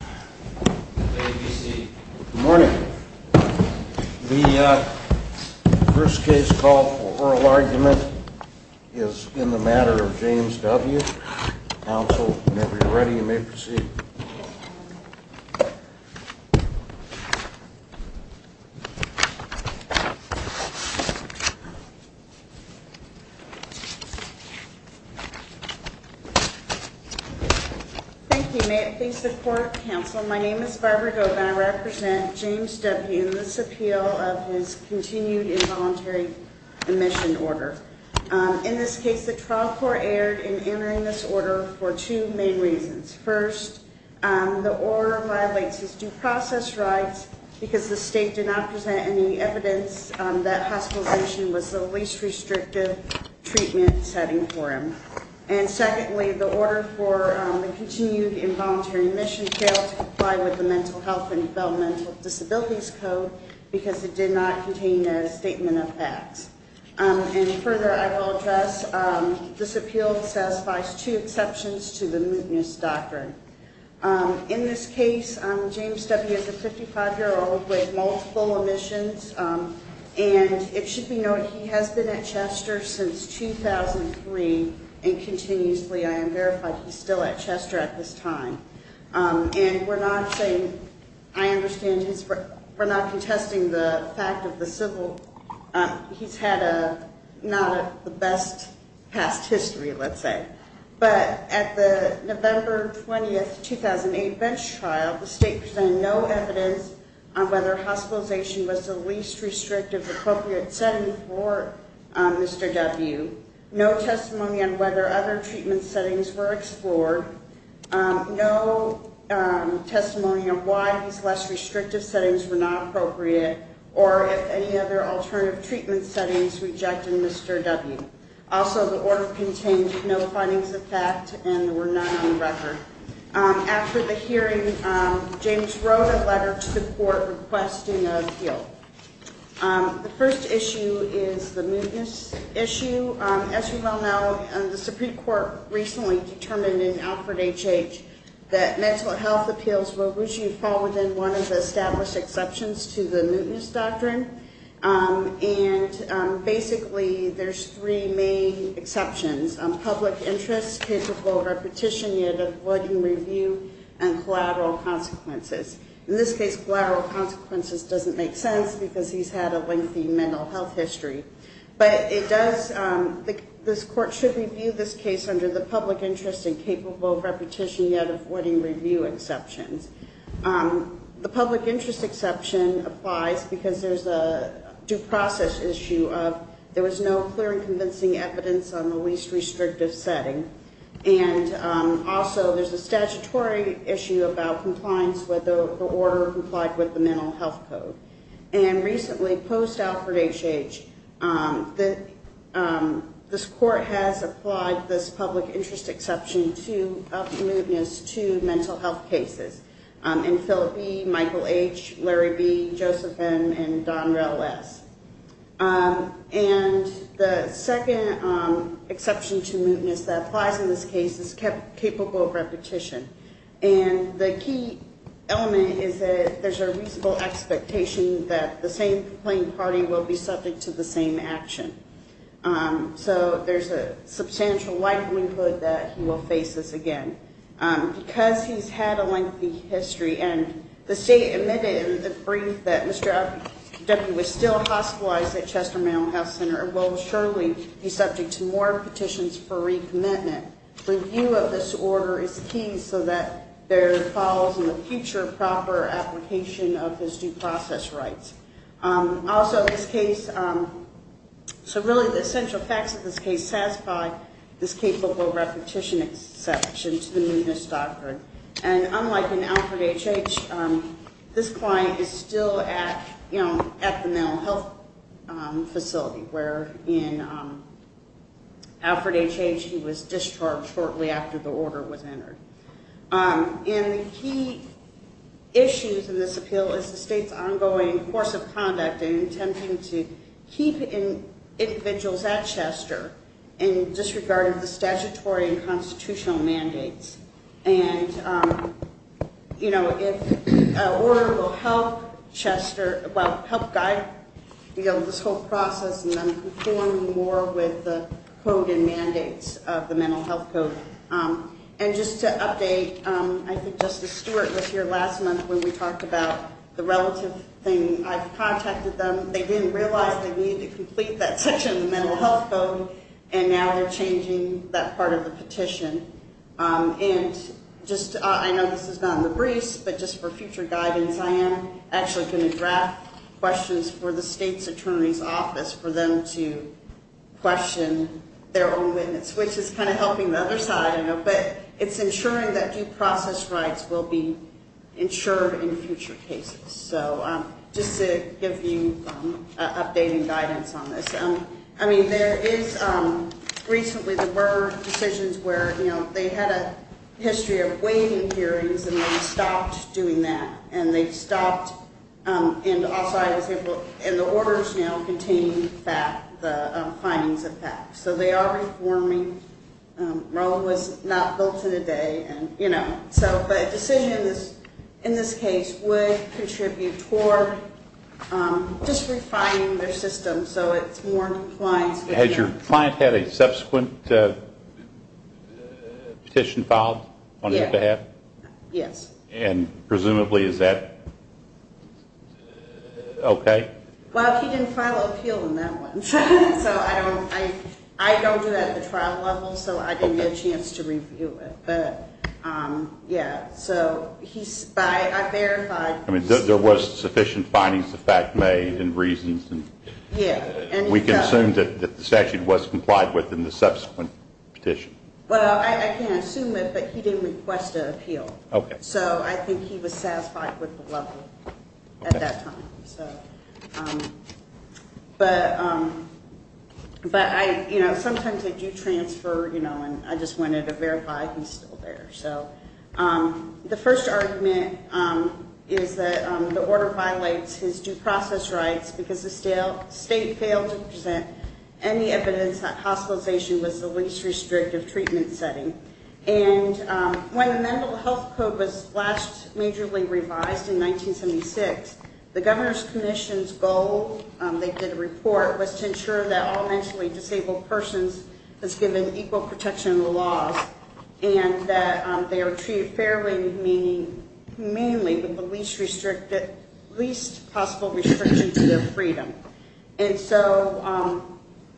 Good morning. The first case call for oral argument is in the Matter of James W. Counsel, whenever you're ready, you may proceed. Thank you. May it please the Court, Counsel. My name is Barbara Govan. I represent James W. in this appeal of his continued involuntary omission order. In this case, the trial court erred in entering this order for two main reasons. First, the order violates his due process rights because the state did not present any evidence that hospitalization was the least restrictive treatment setting for him. And secondly, the order for the continued involuntary omission failed to comply with the Mental Health and Developmental Disabilities Code because it did not contain a statement of facts. And further, I will address, this appeal satisfies two exceptions to the mootness doctrine. In this case, James W. is a 55-year-old with multiple omissions. And it should be noted, he has been at Chester since 2003 and continuously. I am verified he's still at Chester at this time. And we're not saying, I understand he's, we're not contesting the fact of the civil, he's had a, not the best past history, let's say. But at the November 20, 2008 bench trial, the state presented no evidence on whether hospitalization was the least restrictive appropriate setting for Mr. W., no testimony on whether other treatment settings were explored, no testimony on why these less restrictive settings were not appropriate, or if any other alternative treatment settings rejected Mr. W. Also, the order contained no findings of fact and were not in record. After the hearing, James wrote a letter to the court requesting an appeal. The first issue is the mootness issue. As you well know, the Supreme Court recently determined in Alfred H.H. that mental health appeals will usually fall within one of the established exceptions to the mootness doctrine. And basically, there's three main exceptions, public interest, case of voter petition, unit of blood and review, and collateral consequences. In this case, collateral consequences doesn't make sense because he's had a lengthy mental health history. But it does, this court should review this case under the public interest and capable of repetition yet avoiding review exceptions. The public interest exception applies because there's a due process issue of there was no clear and convincing evidence on the least restrictive setting. And also, there's a statutory issue about compliance with the order complied with the mental health code. And recently, post-Alfred H.H., this court has applied this public interest exception to up the mootness to mental health cases in Philip E., Michael H., Larry B., Joseph M., and Donrel S. And the second exception to mootness that applies in this case is capable of repetition. And the key element is that there's a reasonable expectation that the same complaining party will be subject to the same action. So there's a substantial likelihood that he will face this again. Because he's had a lengthy history, and the state admitted in the brief that Mr. Abducki was still hospitalized at Chester Mental Health Center, will surely be subject to more petitions for recommitment. Review of this order is key so that there follows in the future proper application of his due process rights. Also, in this case, so really the essential facts of this case satisfy this capable repetition exception to the mootness doctrine. And unlike in Alfred H.H., this client is still at the mental health facility, where in Alfred H.H. he was discharged shortly after the order was entered. And the key issues in this appeal is the state's ongoing course of conduct in attempting to keep individuals at Chester in disregard of the statutory and constitutional mandates. And, you know, if an order will help Chester, well, help guide this whole process and then conform more with the code and mandates of the mental health code. And just to update, I think Justice Stewart was here last month when we talked about the relative thing. I've contacted them. They didn't realize they needed to complete that section of the mental health code, and now they're changing that part of the petition. And just I know this is not in the briefs, but just for future guidance, I am actually going to draft questions for the state's attorney's office for them to question their own witness, which is kind of helping the other side, I know. But it's ensuring that due process rights will be ensured in future cases. So just to give you updating guidance on this. I mean, there is recently there were decisions where, you know, they had a history of waiting hearings, and they stopped doing that. And they stopped, and also I was able, and the orders now contain the findings of that. So they are reforming. Rome was not built in a day. And, you know, so the decisions in this case would contribute toward just refining their system so it's more compliant. Has your client had a subsequent petition filed on his behalf? Yes. And presumably is that okay? Well, he didn't file an appeal on that one. So I don't do that at the trial level, so I didn't get a chance to review it. But, yeah, so I verified. I mean, there was sufficient findings of fact made and reasons. Yeah. We can assume that the statute was complied with in the subsequent petition. Well, I can't assume it, but he didn't request an appeal. Okay. So I think he was satisfied with the level at that time. But, you know, sometimes I do transfer, you know, and I just wanted to verify he's still there. So the first argument is that the order violates his due process rights because the state failed to present any evidence that hospitalization was the least restrictive treatment setting. And when the Mental Health Code was last majorly revised in 1976, the Governor's Commission's goal, they did a report, was to ensure that all mentally disabled persons was given equal protection in the laws and that they were treated fairly, meaning mainly with the least possible restriction to their freedom. And so,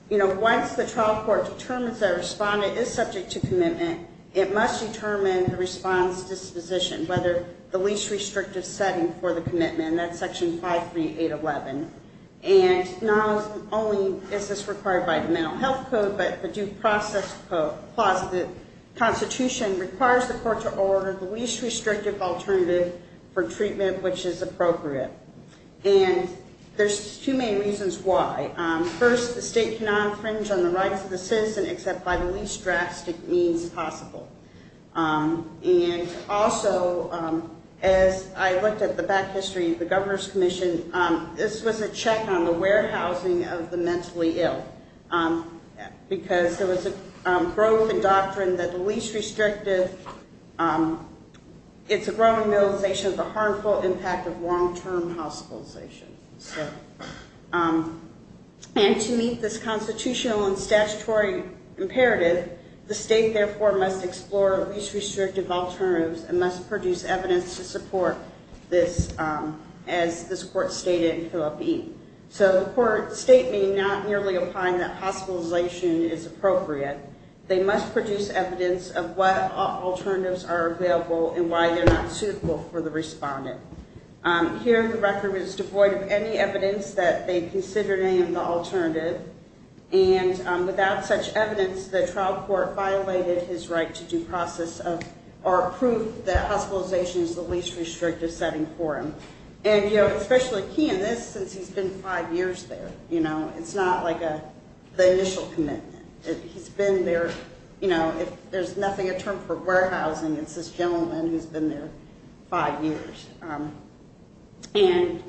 you know, once the trial court determines that a respondent is subject to commitment, it must determine the response disposition, whether the least restrictive setting for the commitment, and that's Section 53811. And not only is this required by the Mental Health Code, but the Due Process Clause of the Constitution requires the court to order the least restrictive alternative for treatment which is appropriate. And there's two main reasons why. First, the state cannot infringe on the rights of the citizen except by the least drastic means possible. And also, as I looked at the back history of the Governor's Commission, this was a check on the warehousing of the mentally ill because there was a growth in doctrine that the least restrictive, it's a growing realization of the harmful impact of long-term hospitalization. And to meet this constitutional and statutory imperative, the state, therefore, must explore least restrictive alternatives and must produce evidence to support this as this court stated in Phillip E. So the court statement not merely applying that hospitalization is appropriate, they must produce evidence of what alternatives are available and why they're not suitable for the respondent. Here, the record was devoid of any evidence that they considered any of the alternative. And without such evidence, the trial court violated his right to due process or approved that hospitalization is the least restrictive setting for him. And, you know, especially he in this since he's been five years there. You know, it's not like the initial commitment. He's been there, you know, if there's nothing a term for warehousing, it's this gentleman who's been there five years. And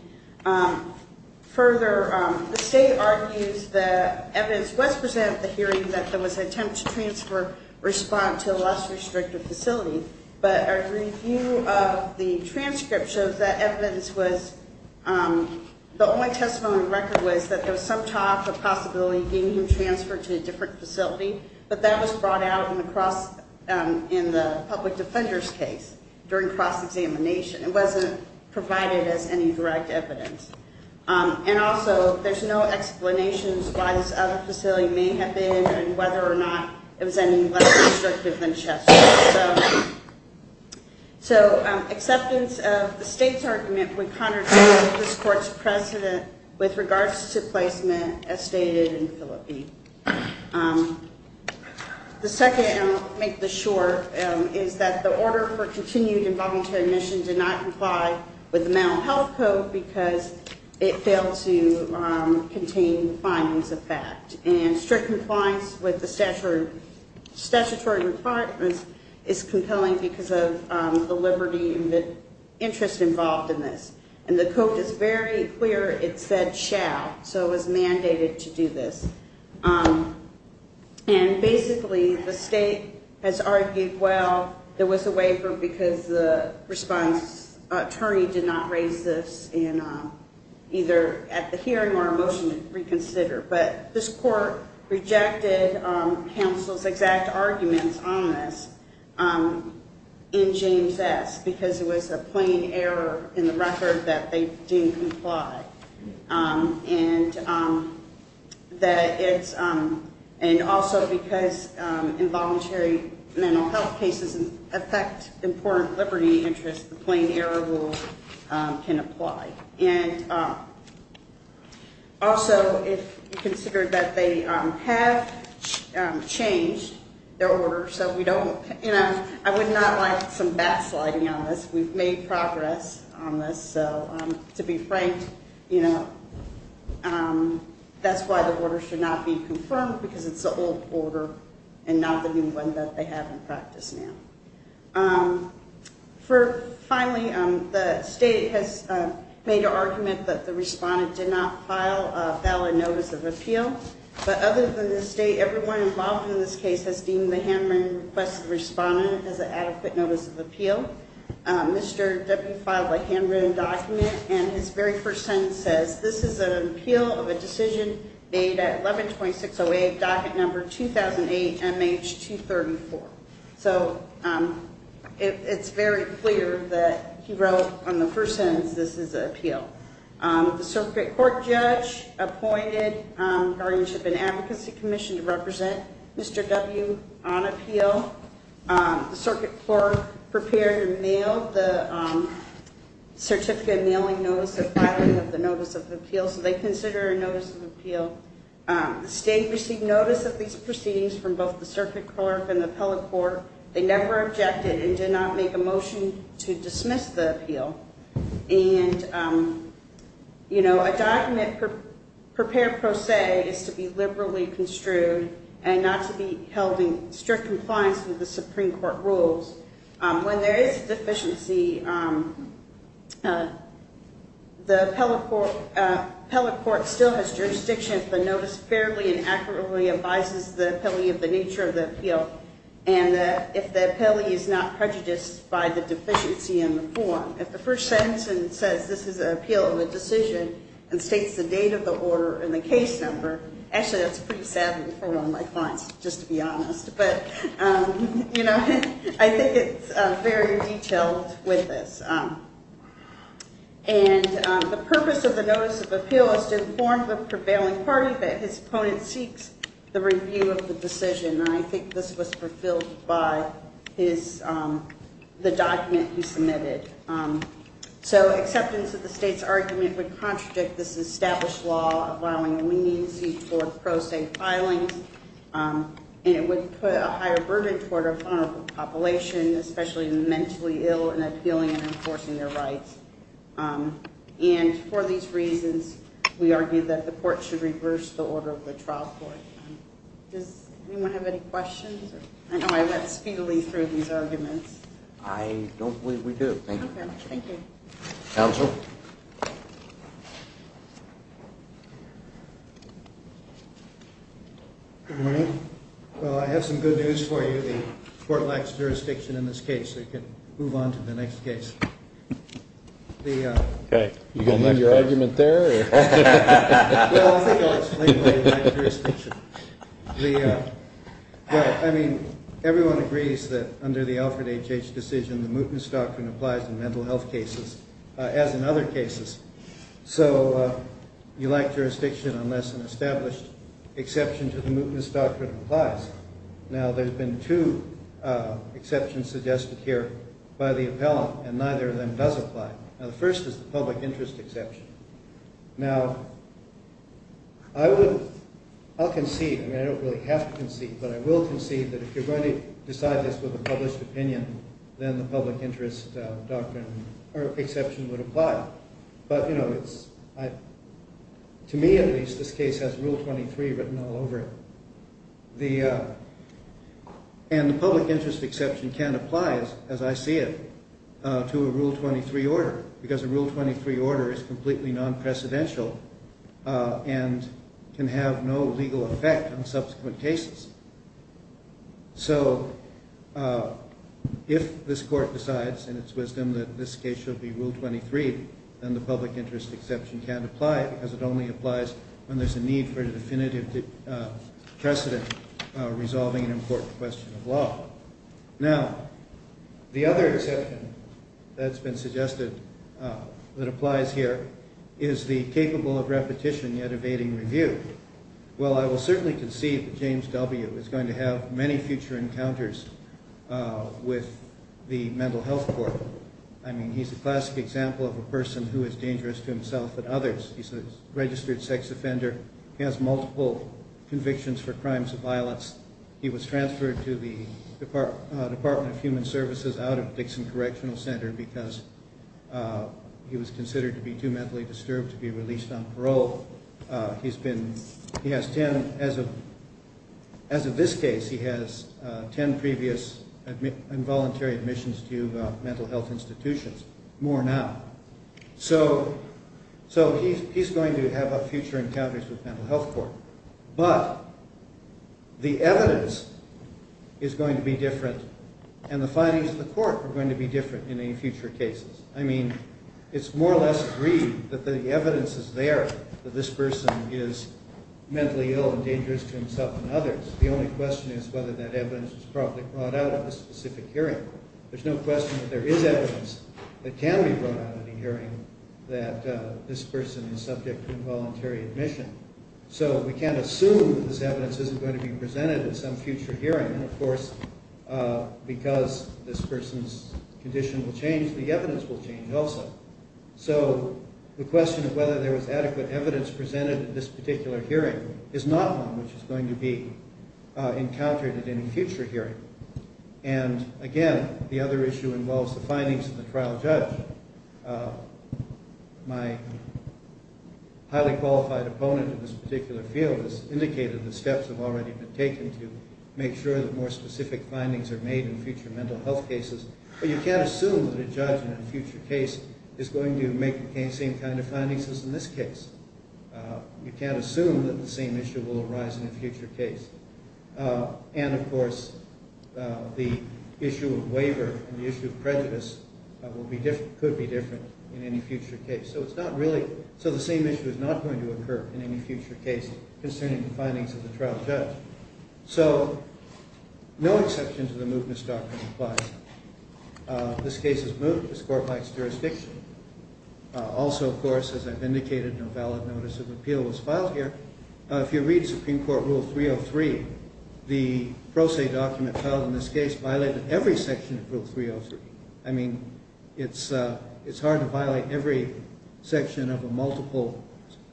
further, the state argues that evidence was presented at the hearing that there was an attempt to transfer respond to a less restrictive facility. But a review of the transcript shows that evidence was the only testimony record was that there was some type of possibility getting him transferred to a different facility. But that was brought out in the public defender's case during cross-examination. It wasn't provided as any direct evidence. And also, there's no explanations why this other facility may have been and whether or not it was any less restrictive than Chester. So acceptance of the state's argument would contradict this court's precedent with regards to placement, as stated in Philippi. The second, and I'll make this short, is that the order for continued involuntary admission did not comply with the Mental Health Code because it failed to contain findings of fact. And strict compliance with the statutory requirements is compelling because of the liberty and the interest involved in this. And the code is very clear, it said shall. So it was mandated to do this. And basically, the state has argued, well, there was a waiver because the response attorney did not raise this either at the hearing or a motion to reconsider. But this court rejected counsel's exact arguments on this in James S. because it was a plain error in the record that they didn't comply. And also because involuntary mental health cases affect important liberty interests, the plain error rule can apply. Also, it considered that they have changed their order, and I would not like some backsliding on this. We've made progress on this. So to be frank, that's why the order should not be confirmed because it's an old order and not the new one that they have in practice now. Finally, the state has made an argument that the respondent did not file a valid notice of appeal. But other than the state, everyone involved in this case has deemed the handwritten request of the respondent as an adequate notice of appeal. Mr. Debbie filed a handwritten document, and his very first sentence says, this is an appeal of a decision made at 1126.08, docket number 2008MH234. So it's very clear that he wrote on the first sentence this is an appeal. The circuit court judge appointed guardianship and advocacy commission to represent Mr. W on appeal. The circuit court prepared and mailed the certificate of mailing notice and filing of the notice of appeal, so they consider it a notice of appeal. The state received notice of these proceedings from both the circuit court and the appellate court. They never objected and did not make a motion to dismiss the appeal. And, you know, a document prepared pro se is to be liberally construed and not to be held in strict compliance with the Supreme Court rules. When there is a deficiency, the appellate court still has jurisdiction if the notice fairly and accurately advises the appellee of the nature of the appeal and if the appellee is not prejudiced by the deficiency in the form. If the first sentence says this is an appeal of a decision and states the date of the order and the case number, actually that's pretty savvy for one like mine, just to be honest. But, you know, I think it's very detailed with this. And the purpose of the notice of appeal is to inform the prevailing party that his opponent seeks the review of the decision. And I think this was fulfilled by the document he submitted. So acceptance of the state's argument would contradict this established law allowing leniency for pro se filings. And it would put a higher burden toward a vulnerable population, especially mentally ill and appealing and enforcing their rights. And for these reasons, we argue that the court should reverse the order of the trial court. Does anyone have any questions? I know I went speedily through these arguments. I don't believe we do. Thank you. Okay. Thank you. Counsel? Good morning. Well, I have some good news for you. The court lacks jurisdiction in this case. We can move on to the next case. You going to leave your argument there? Well, I think I'll explain why we lack jurisdiction. Well, I mean, everyone agrees that under the Alfred H.H. decision, the mootness doctrine applies in mental health cases as in other cases. So you lack jurisdiction unless an established exception to the mootness doctrine applies. Now, there have been two exceptions suggested here by the appellant, and neither of them does apply. Now, the first is the public interest exception. Now, I'll concede. I mean, I don't really have to concede, but I will concede that if you're going to decide this with a published opinion, then the public interest exception would apply. But, you know, to me at least, this case has Rule 23 written all over it. And the public interest exception can't apply, as I see it, to a Rule 23 order, because a Rule 23 order is completely non-precedential and can have no legal effect on subsequent cases. So if this court decides in its wisdom that this case should be Rule 23, then the public interest exception can't apply because it only applies when there's a need for a definitive precedent resolving an important question of law. Now, the other exception that's been suggested that applies here is the capable of repetition yet evading review. Well, I will certainly concede that James W. is going to have many future encounters with the mental health court. I mean, he's a classic example of a person who is dangerous to himself and others. He's a registered sex offender. He has multiple convictions for crimes of violence. He was transferred to the Department of Human Services out of Dixon Correctional Center because he was considered to be too mentally disturbed to be released on parole. As of this case, he has 10 previous involuntary admissions to mental health institutions, more now. So he's going to have future encounters with the mental health court. But the evidence is going to be different, and the findings of the court are going to be different in any future cases. I mean, it's more or less agreed that the evidence is there that this person is mentally ill and dangerous to himself and others. The only question is whether that evidence was probably brought out at this specific hearing. There's no question that there is evidence that can be brought out at a hearing that this person is subject to involuntary admission. So we can't assume that this evidence isn't going to be presented at some future hearing. And, of course, because this person's condition will change, the evidence will change also. So the question of whether there was adequate evidence presented at this particular hearing is not one which is going to be encountered at any future hearing. And, again, the other issue involves the findings of the trial judge. My highly qualified opponent in this particular field has indicated that steps have already been taken to make sure that more specific findings are made in future mental health cases. But you can't assume that a judge in a future case is going to make the same kind of findings as in this case. You can't assume that the same issue will arise in a future case. And, of course, the issue of waiver and the issue of prejudice could be different in any future case. So it's not really... So the same issue is not going to occur in any future case concerning the findings of the trial judge. So no exception to the mootness doctrine applies. This case is moot. This court likes jurisdiction. Also, of course, as I've indicated, no valid notice of appeal was filed here. If you read Supreme Court Rule 303, the pro se document filed in this case violated every section of Rule 303. I mean, it's hard to violate every section of a multiple...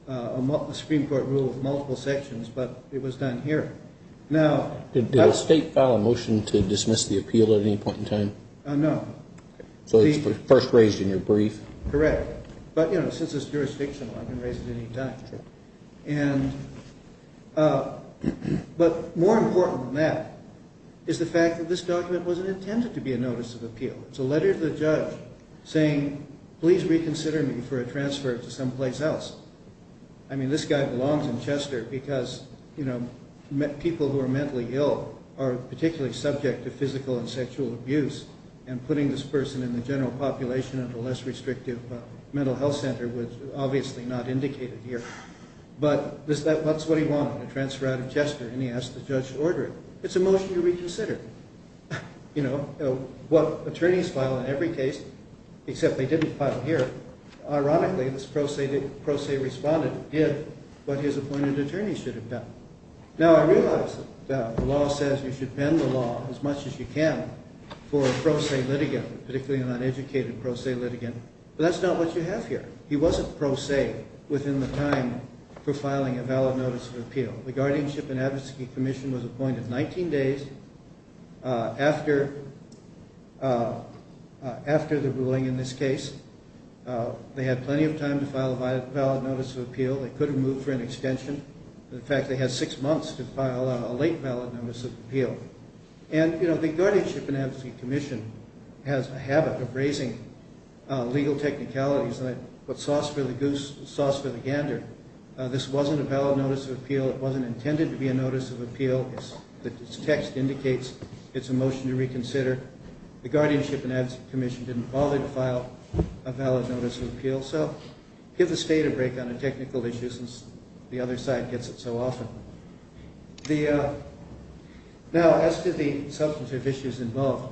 a Supreme Court rule of multiple sections, but it was done here. Now... Did the state file a motion to dismiss the appeal at any point in time? No. So it's first raised in your brief? Correct. But, you know, since it's jurisdictional, I can raise it any time. Sure. And... But more important than that is the fact that this document wasn't intended to be a notice of appeal. It's a letter to the judge saying, please reconsider me for a transfer to someplace else. I mean, this guy belongs in Chester because, you know, people who are mentally ill are particularly subject to physical and sexual abuse, and putting this person in the general population of a less restrictive mental health center was obviously not indicated here. But that's what he wanted, a transfer out of Chester, and he asked the judge to order it. It's a motion to reconsider. You know, attorneys file in every case, except they didn't file here. Ironically, this pro se responded, did what his appointed attorney should have done. Now, I realize that the law says you should bend the law as much as you can for a pro se litigant, particularly an uneducated pro se litigant, but that's not what you have here. He wasn't pro se within the time for filing a valid notice of appeal. The Guardianship and Advocacy Commission was appointed 19 days after the ruling in this case. They had plenty of time to file a valid notice of appeal. They could have moved for an extension. In fact, they had 6 months to file a late valid notice of appeal. And, you know, the Guardianship and Advocacy Commission has a habit of raising legal technicalities and what's sauce for the goose is sauce for the gander. This wasn't a valid notice of appeal. It wasn't intended to be a notice of appeal. Its text indicates it's a motion to reconsider. The Guardianship and Advocacy Commission didn't bother to file a valid notice of appeal, so give the state a break on the technical issues since the other side gets it so often. Now, as to the substantive issues involved,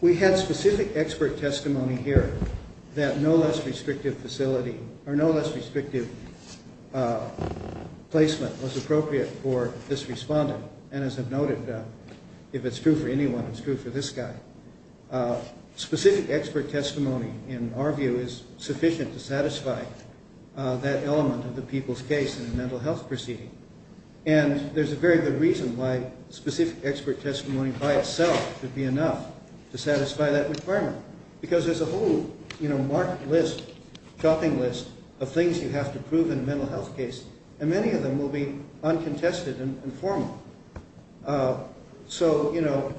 we had specific expert testimony here that no less restrictive facility or no less restrictive placement was appropriate for this respondent. And as I've noted, if it's true for anyone, it's true for this guy. Specific expert testimony, in our view, is sufficient to satisfy that element of the people's case in a mental health proceeding. And there's a very good reason why specific expert testimony by itself would be enough to satisfy that requirement because there's a whole, you know, marked list, chopping list of things you have to prove in a mental health case, and many of them will be uncontested and informal. So, you know,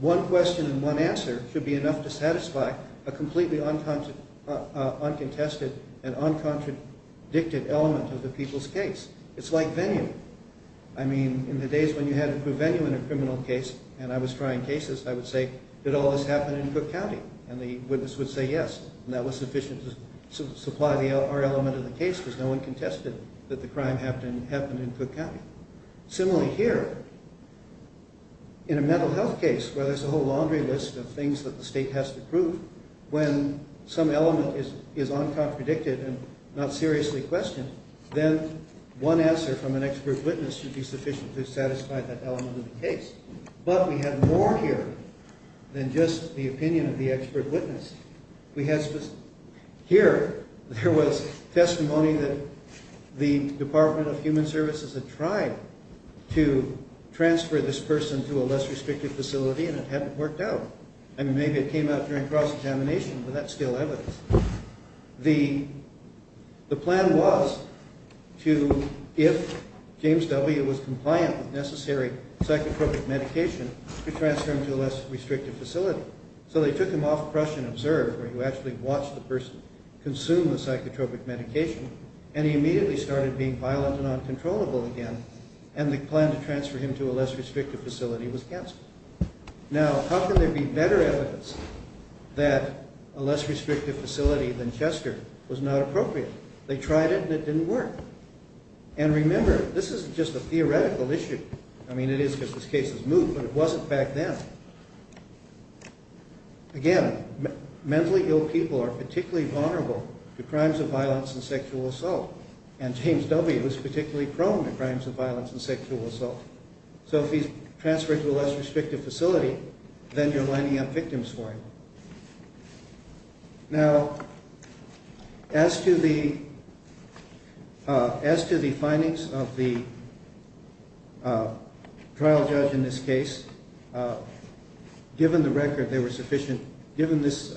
one question and one answer should be enough to satisfy a completely uncontested and uncontradicted element of the people's case. It's like venue. I mean, in the days when you had to prove venue in a criminal case, and I was trying cases, I would say, did all this happen in Cook County? And the witness would say yes, and that was sufficient to supply our element of the case because no one contested that the crime happened in Cook County. Similarly here, in a mental health case, where there's a whole laundry list of things that the state has to prove, when some element is uncontradicted and not seriously questioned, then one answer from an expert witness should be sufficient to satisfy that element of the case. But we have more here than just the opinion of the expert witness. Here, there was testimony that the Department of Human Services had tried to transfer this person to a less restrictive facility, and it hadn't worked out. I mean, maybe it came out during cross-examination, but that's still evidence. The plan was to, if James W. was compliant with necessary psychotropic medication, to transfer him to a less restrictive facility. So they took him off Crush and Observe, where you actually watch the person consume the psychotropic medication, and he immediately started being violent and uncontrollable again, and the plan to transfer him to a less restrictive facility was canceled. Now, how can there be better evidence that a less restrictive facility than Chester was not appropriate? They tried it, and it didn't work. And remember, this isn't just a theoretical issue. I mean, it is because this case is moot, but it wasn't back then. Again, mentally ill people are particularly vulnerable to crimes of violence and sexual assault, and James W. is particularly prone to crimes of violence and sexual assault. So if he's transferred to a less restrictive facility, then you're lining up victims for him. Now, as to the findings of the trial judge in this case, given this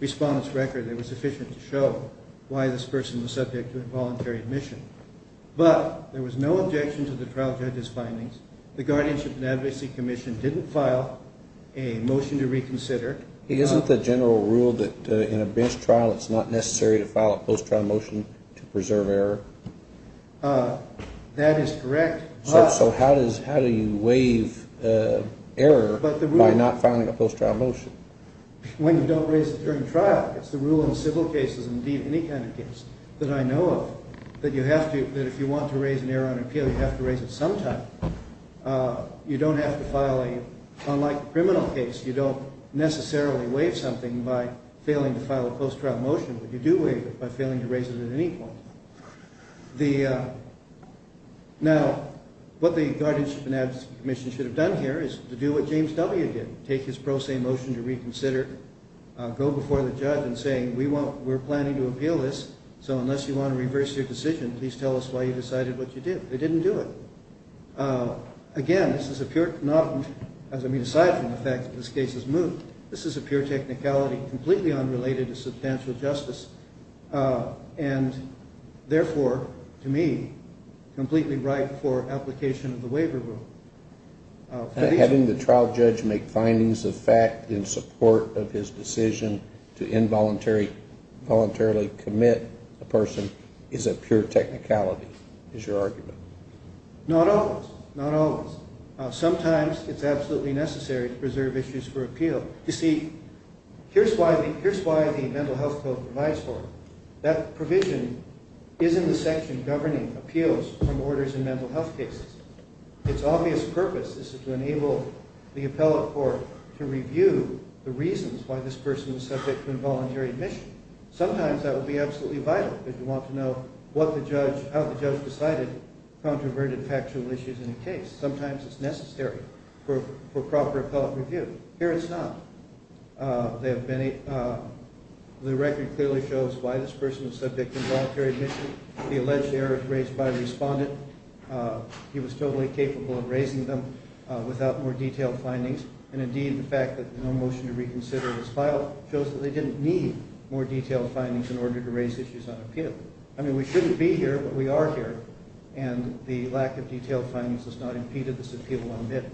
respondent's record, they were sufficient to show why this person was subject to involuntary admission. But there was no objection to the trial judge's findings. The Guardianship and Advocacy Commission didn't file a motion to reconsider. Isn't the general rule that in a bench trial, it's not necessary to file a post-trial motion to preserve error? That is correct. So how do you waive error by not filing a post-trial motion? When you don't raise it during trial. It's the rule in civil cases, and indeed any kind of case that I know of, that if you want to raise an error on appeal, you have to raise it sometime. Unlike the criminal case, you don't necessarily waive something by failing to file a post-trial motion, but you do waive it by failing to raise it at any point. Now, what the Guardianship and Advocacy Commission should have done here is to do what James W. did, take his pro se motion to reconsider, go before the judge and say, we're planning to appeal this, so unless you want to reverse your decision, please tell us why you decided what you did. They didn't do it. Again, this is a pure, aside from the fact that this case was moved, this is a pure technicality, completely unrelated to substantial justice, and therefore, to me, completely ripe for application of the waiver rule. Having the trial judge make findings of fact in support of his decision to involuntarily commit a person is a pure technicality, is your argument. Not always, not always. Sometimes it's absolutely necessary to preserve issues for appeal. You see, here's why the Mental Health Code provides for it. That provision is in the section governing appeals from orders in mental health cases. Its obvious purpose is to enable the appellate court to review the reasons why this person was subject to involuntary admission. Sometimes that will be absolutely vital, because you want to know how the judge decided controverted factual issues in a case. Sometimes it's necessary for proper appellate review. Here it's not. The record clearly shows why this person was subject to involuntary admission. The alleged error is raised by a respondent. He was totally capable of raising them without more detailed findings. And indeed, the fact that there's no motion to reconsider this file shows that they didn't need more detailed findings in order to raise issues on appeal. I mean, we shouldn't be here, but we are here. And the lack of detailed findings has not impeded this appeal on a bid.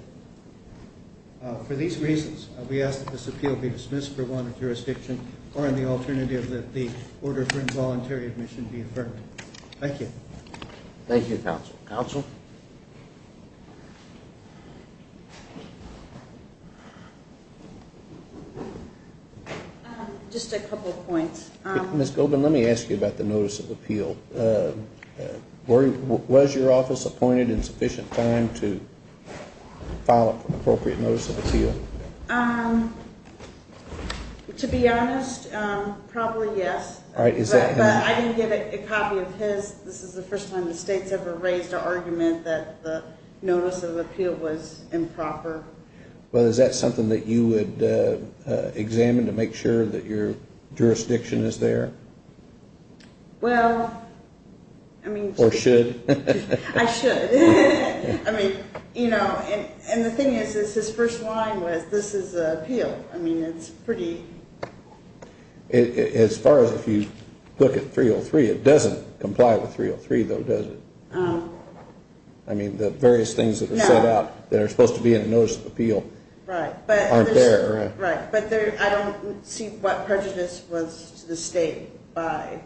For these reasons, we ask that this appeal be dismissed for wanted jurisdiction or on the alternative that the order for involuntary admission be affirmed. Thank you. Thank you, counsel. Counsel? Just a couple of points. Ms. Gobin, let me ask you about the notice of appeal. Was your office appointed in sufficient time to file an appropriate notice of appeal? To be honest, probably yes. But I didn't get a copy of his. This is the first time the state's ever raised an argument that the notice of appeal was improper. Well, is that something that you would examine to make sure that your jurisdiction is there? Well, I mean... Or should? I should. I mean, you know, and the thing is, his first line was, this is an appeal. I mean, it's pretty... As far as if you look at 303, it doesn't comply with 303, though, does it? I mean, the various things that are set out that are supposed to be in the notice of appeal aren't there. Right, but I don't see what prejudice was to the state by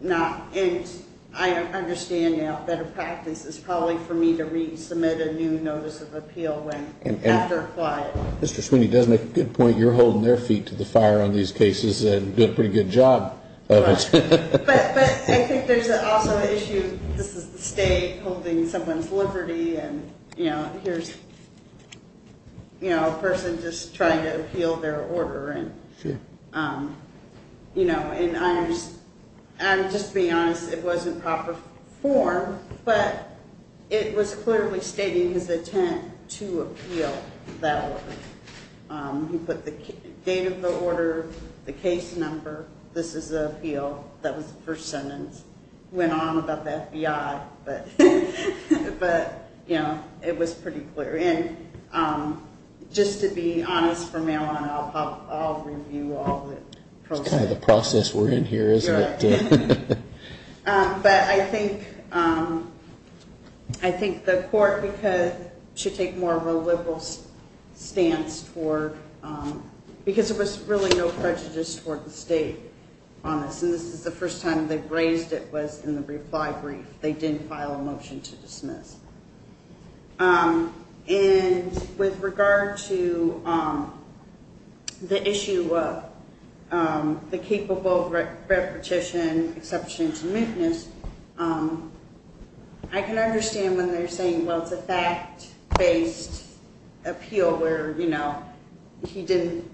not... And I understand now that a practice is probably for me to resubmit a new notice of appeal after applying it. Mr. Sweeney does make a good point. You're holding their feet to the fire on these cases and you're doing a pretty good job of it. But I think there's also the issue, this is the state holding someone's liberty and, you know, here's a person just trying to appeal their order. Sure. You know, and I'm just being honest, it wasn't proper form, but it was clearly stating his intent to appeal that order. He put the date of the order, the case number, this is the appeal, that was the first sentence. It just went on about the FBI, but, you know, it was pretty clear. And just to be honest from now on, I'll review all the process. It's kind of the process we're in here, isn't it? Right. But I think the court should take more of a liberal stance toward, because there was really no prejudice toward the state on this, and this is the first time they've raised it was in the reply brief. They didn't file a motion to dismiss. And with regard to the issue of the capable repetition, exception to mootness, I can understand when they're saying, well, it's a fact-based appeal where, you know, he didn't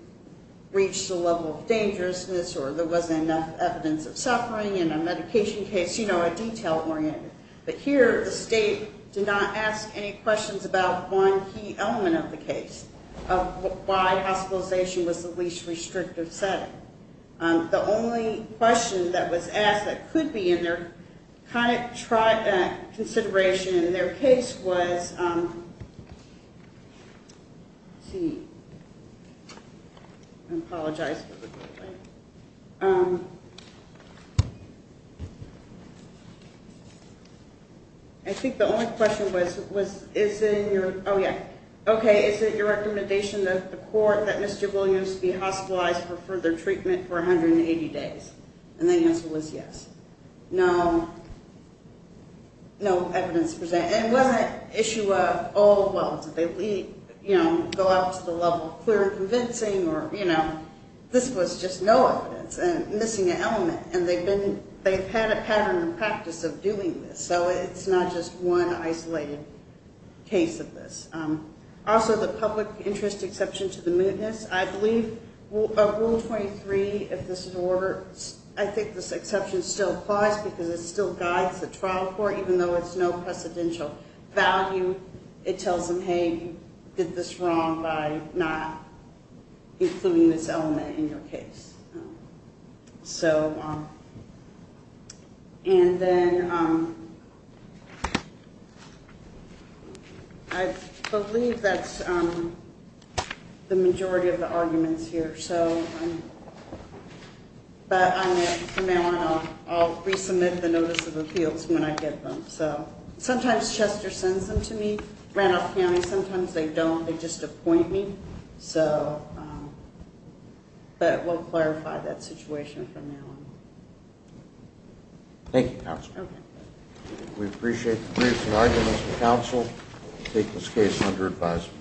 reach the level of dangerousness or there wasn't enough evidence of suffering in a medication case, you know, a detail-oriented. But here the state did not ask any questions about one key element of the case, of why hospitalization was the least restrictive setting. The only question that was asked that could be in their kind of consideration in their case was, let's see. I apologize for the delay. I think the only question was, is it in your, oh, yeah. Okay, is it your recommendation that the court, that Mr. Williams be hospitalized for further treatment for 180 days? And the answer was yes. No. No evidence presented. And was that issue of, oh, well, did they, you know, go out to the level of clear and convincing or, you know, this was just no evidence and missing an element. And they've had a pattern and practice of doing this, so it's not just one isolated case of this. Also, the public interest exception to the mootness, I believe Rule 23, if this is in order, I think this exception still applies because it still guides the trial court, even though it's no precedential value. It tells them, hey, you did this wrong by not including this element in your case. So, and then I believe that's the majority of the arguments here. So, but from now on, I'll resubmit the notice of appeals when I get them. So sometimes Chester sends them to me, Randolph County. Sometimes they don't. They just appoint me. So, but we'll clarify that situation from now on. Thank you, Counsel. Okay. We appreciate the briefs and arguments from counsel. We take this case under advisement.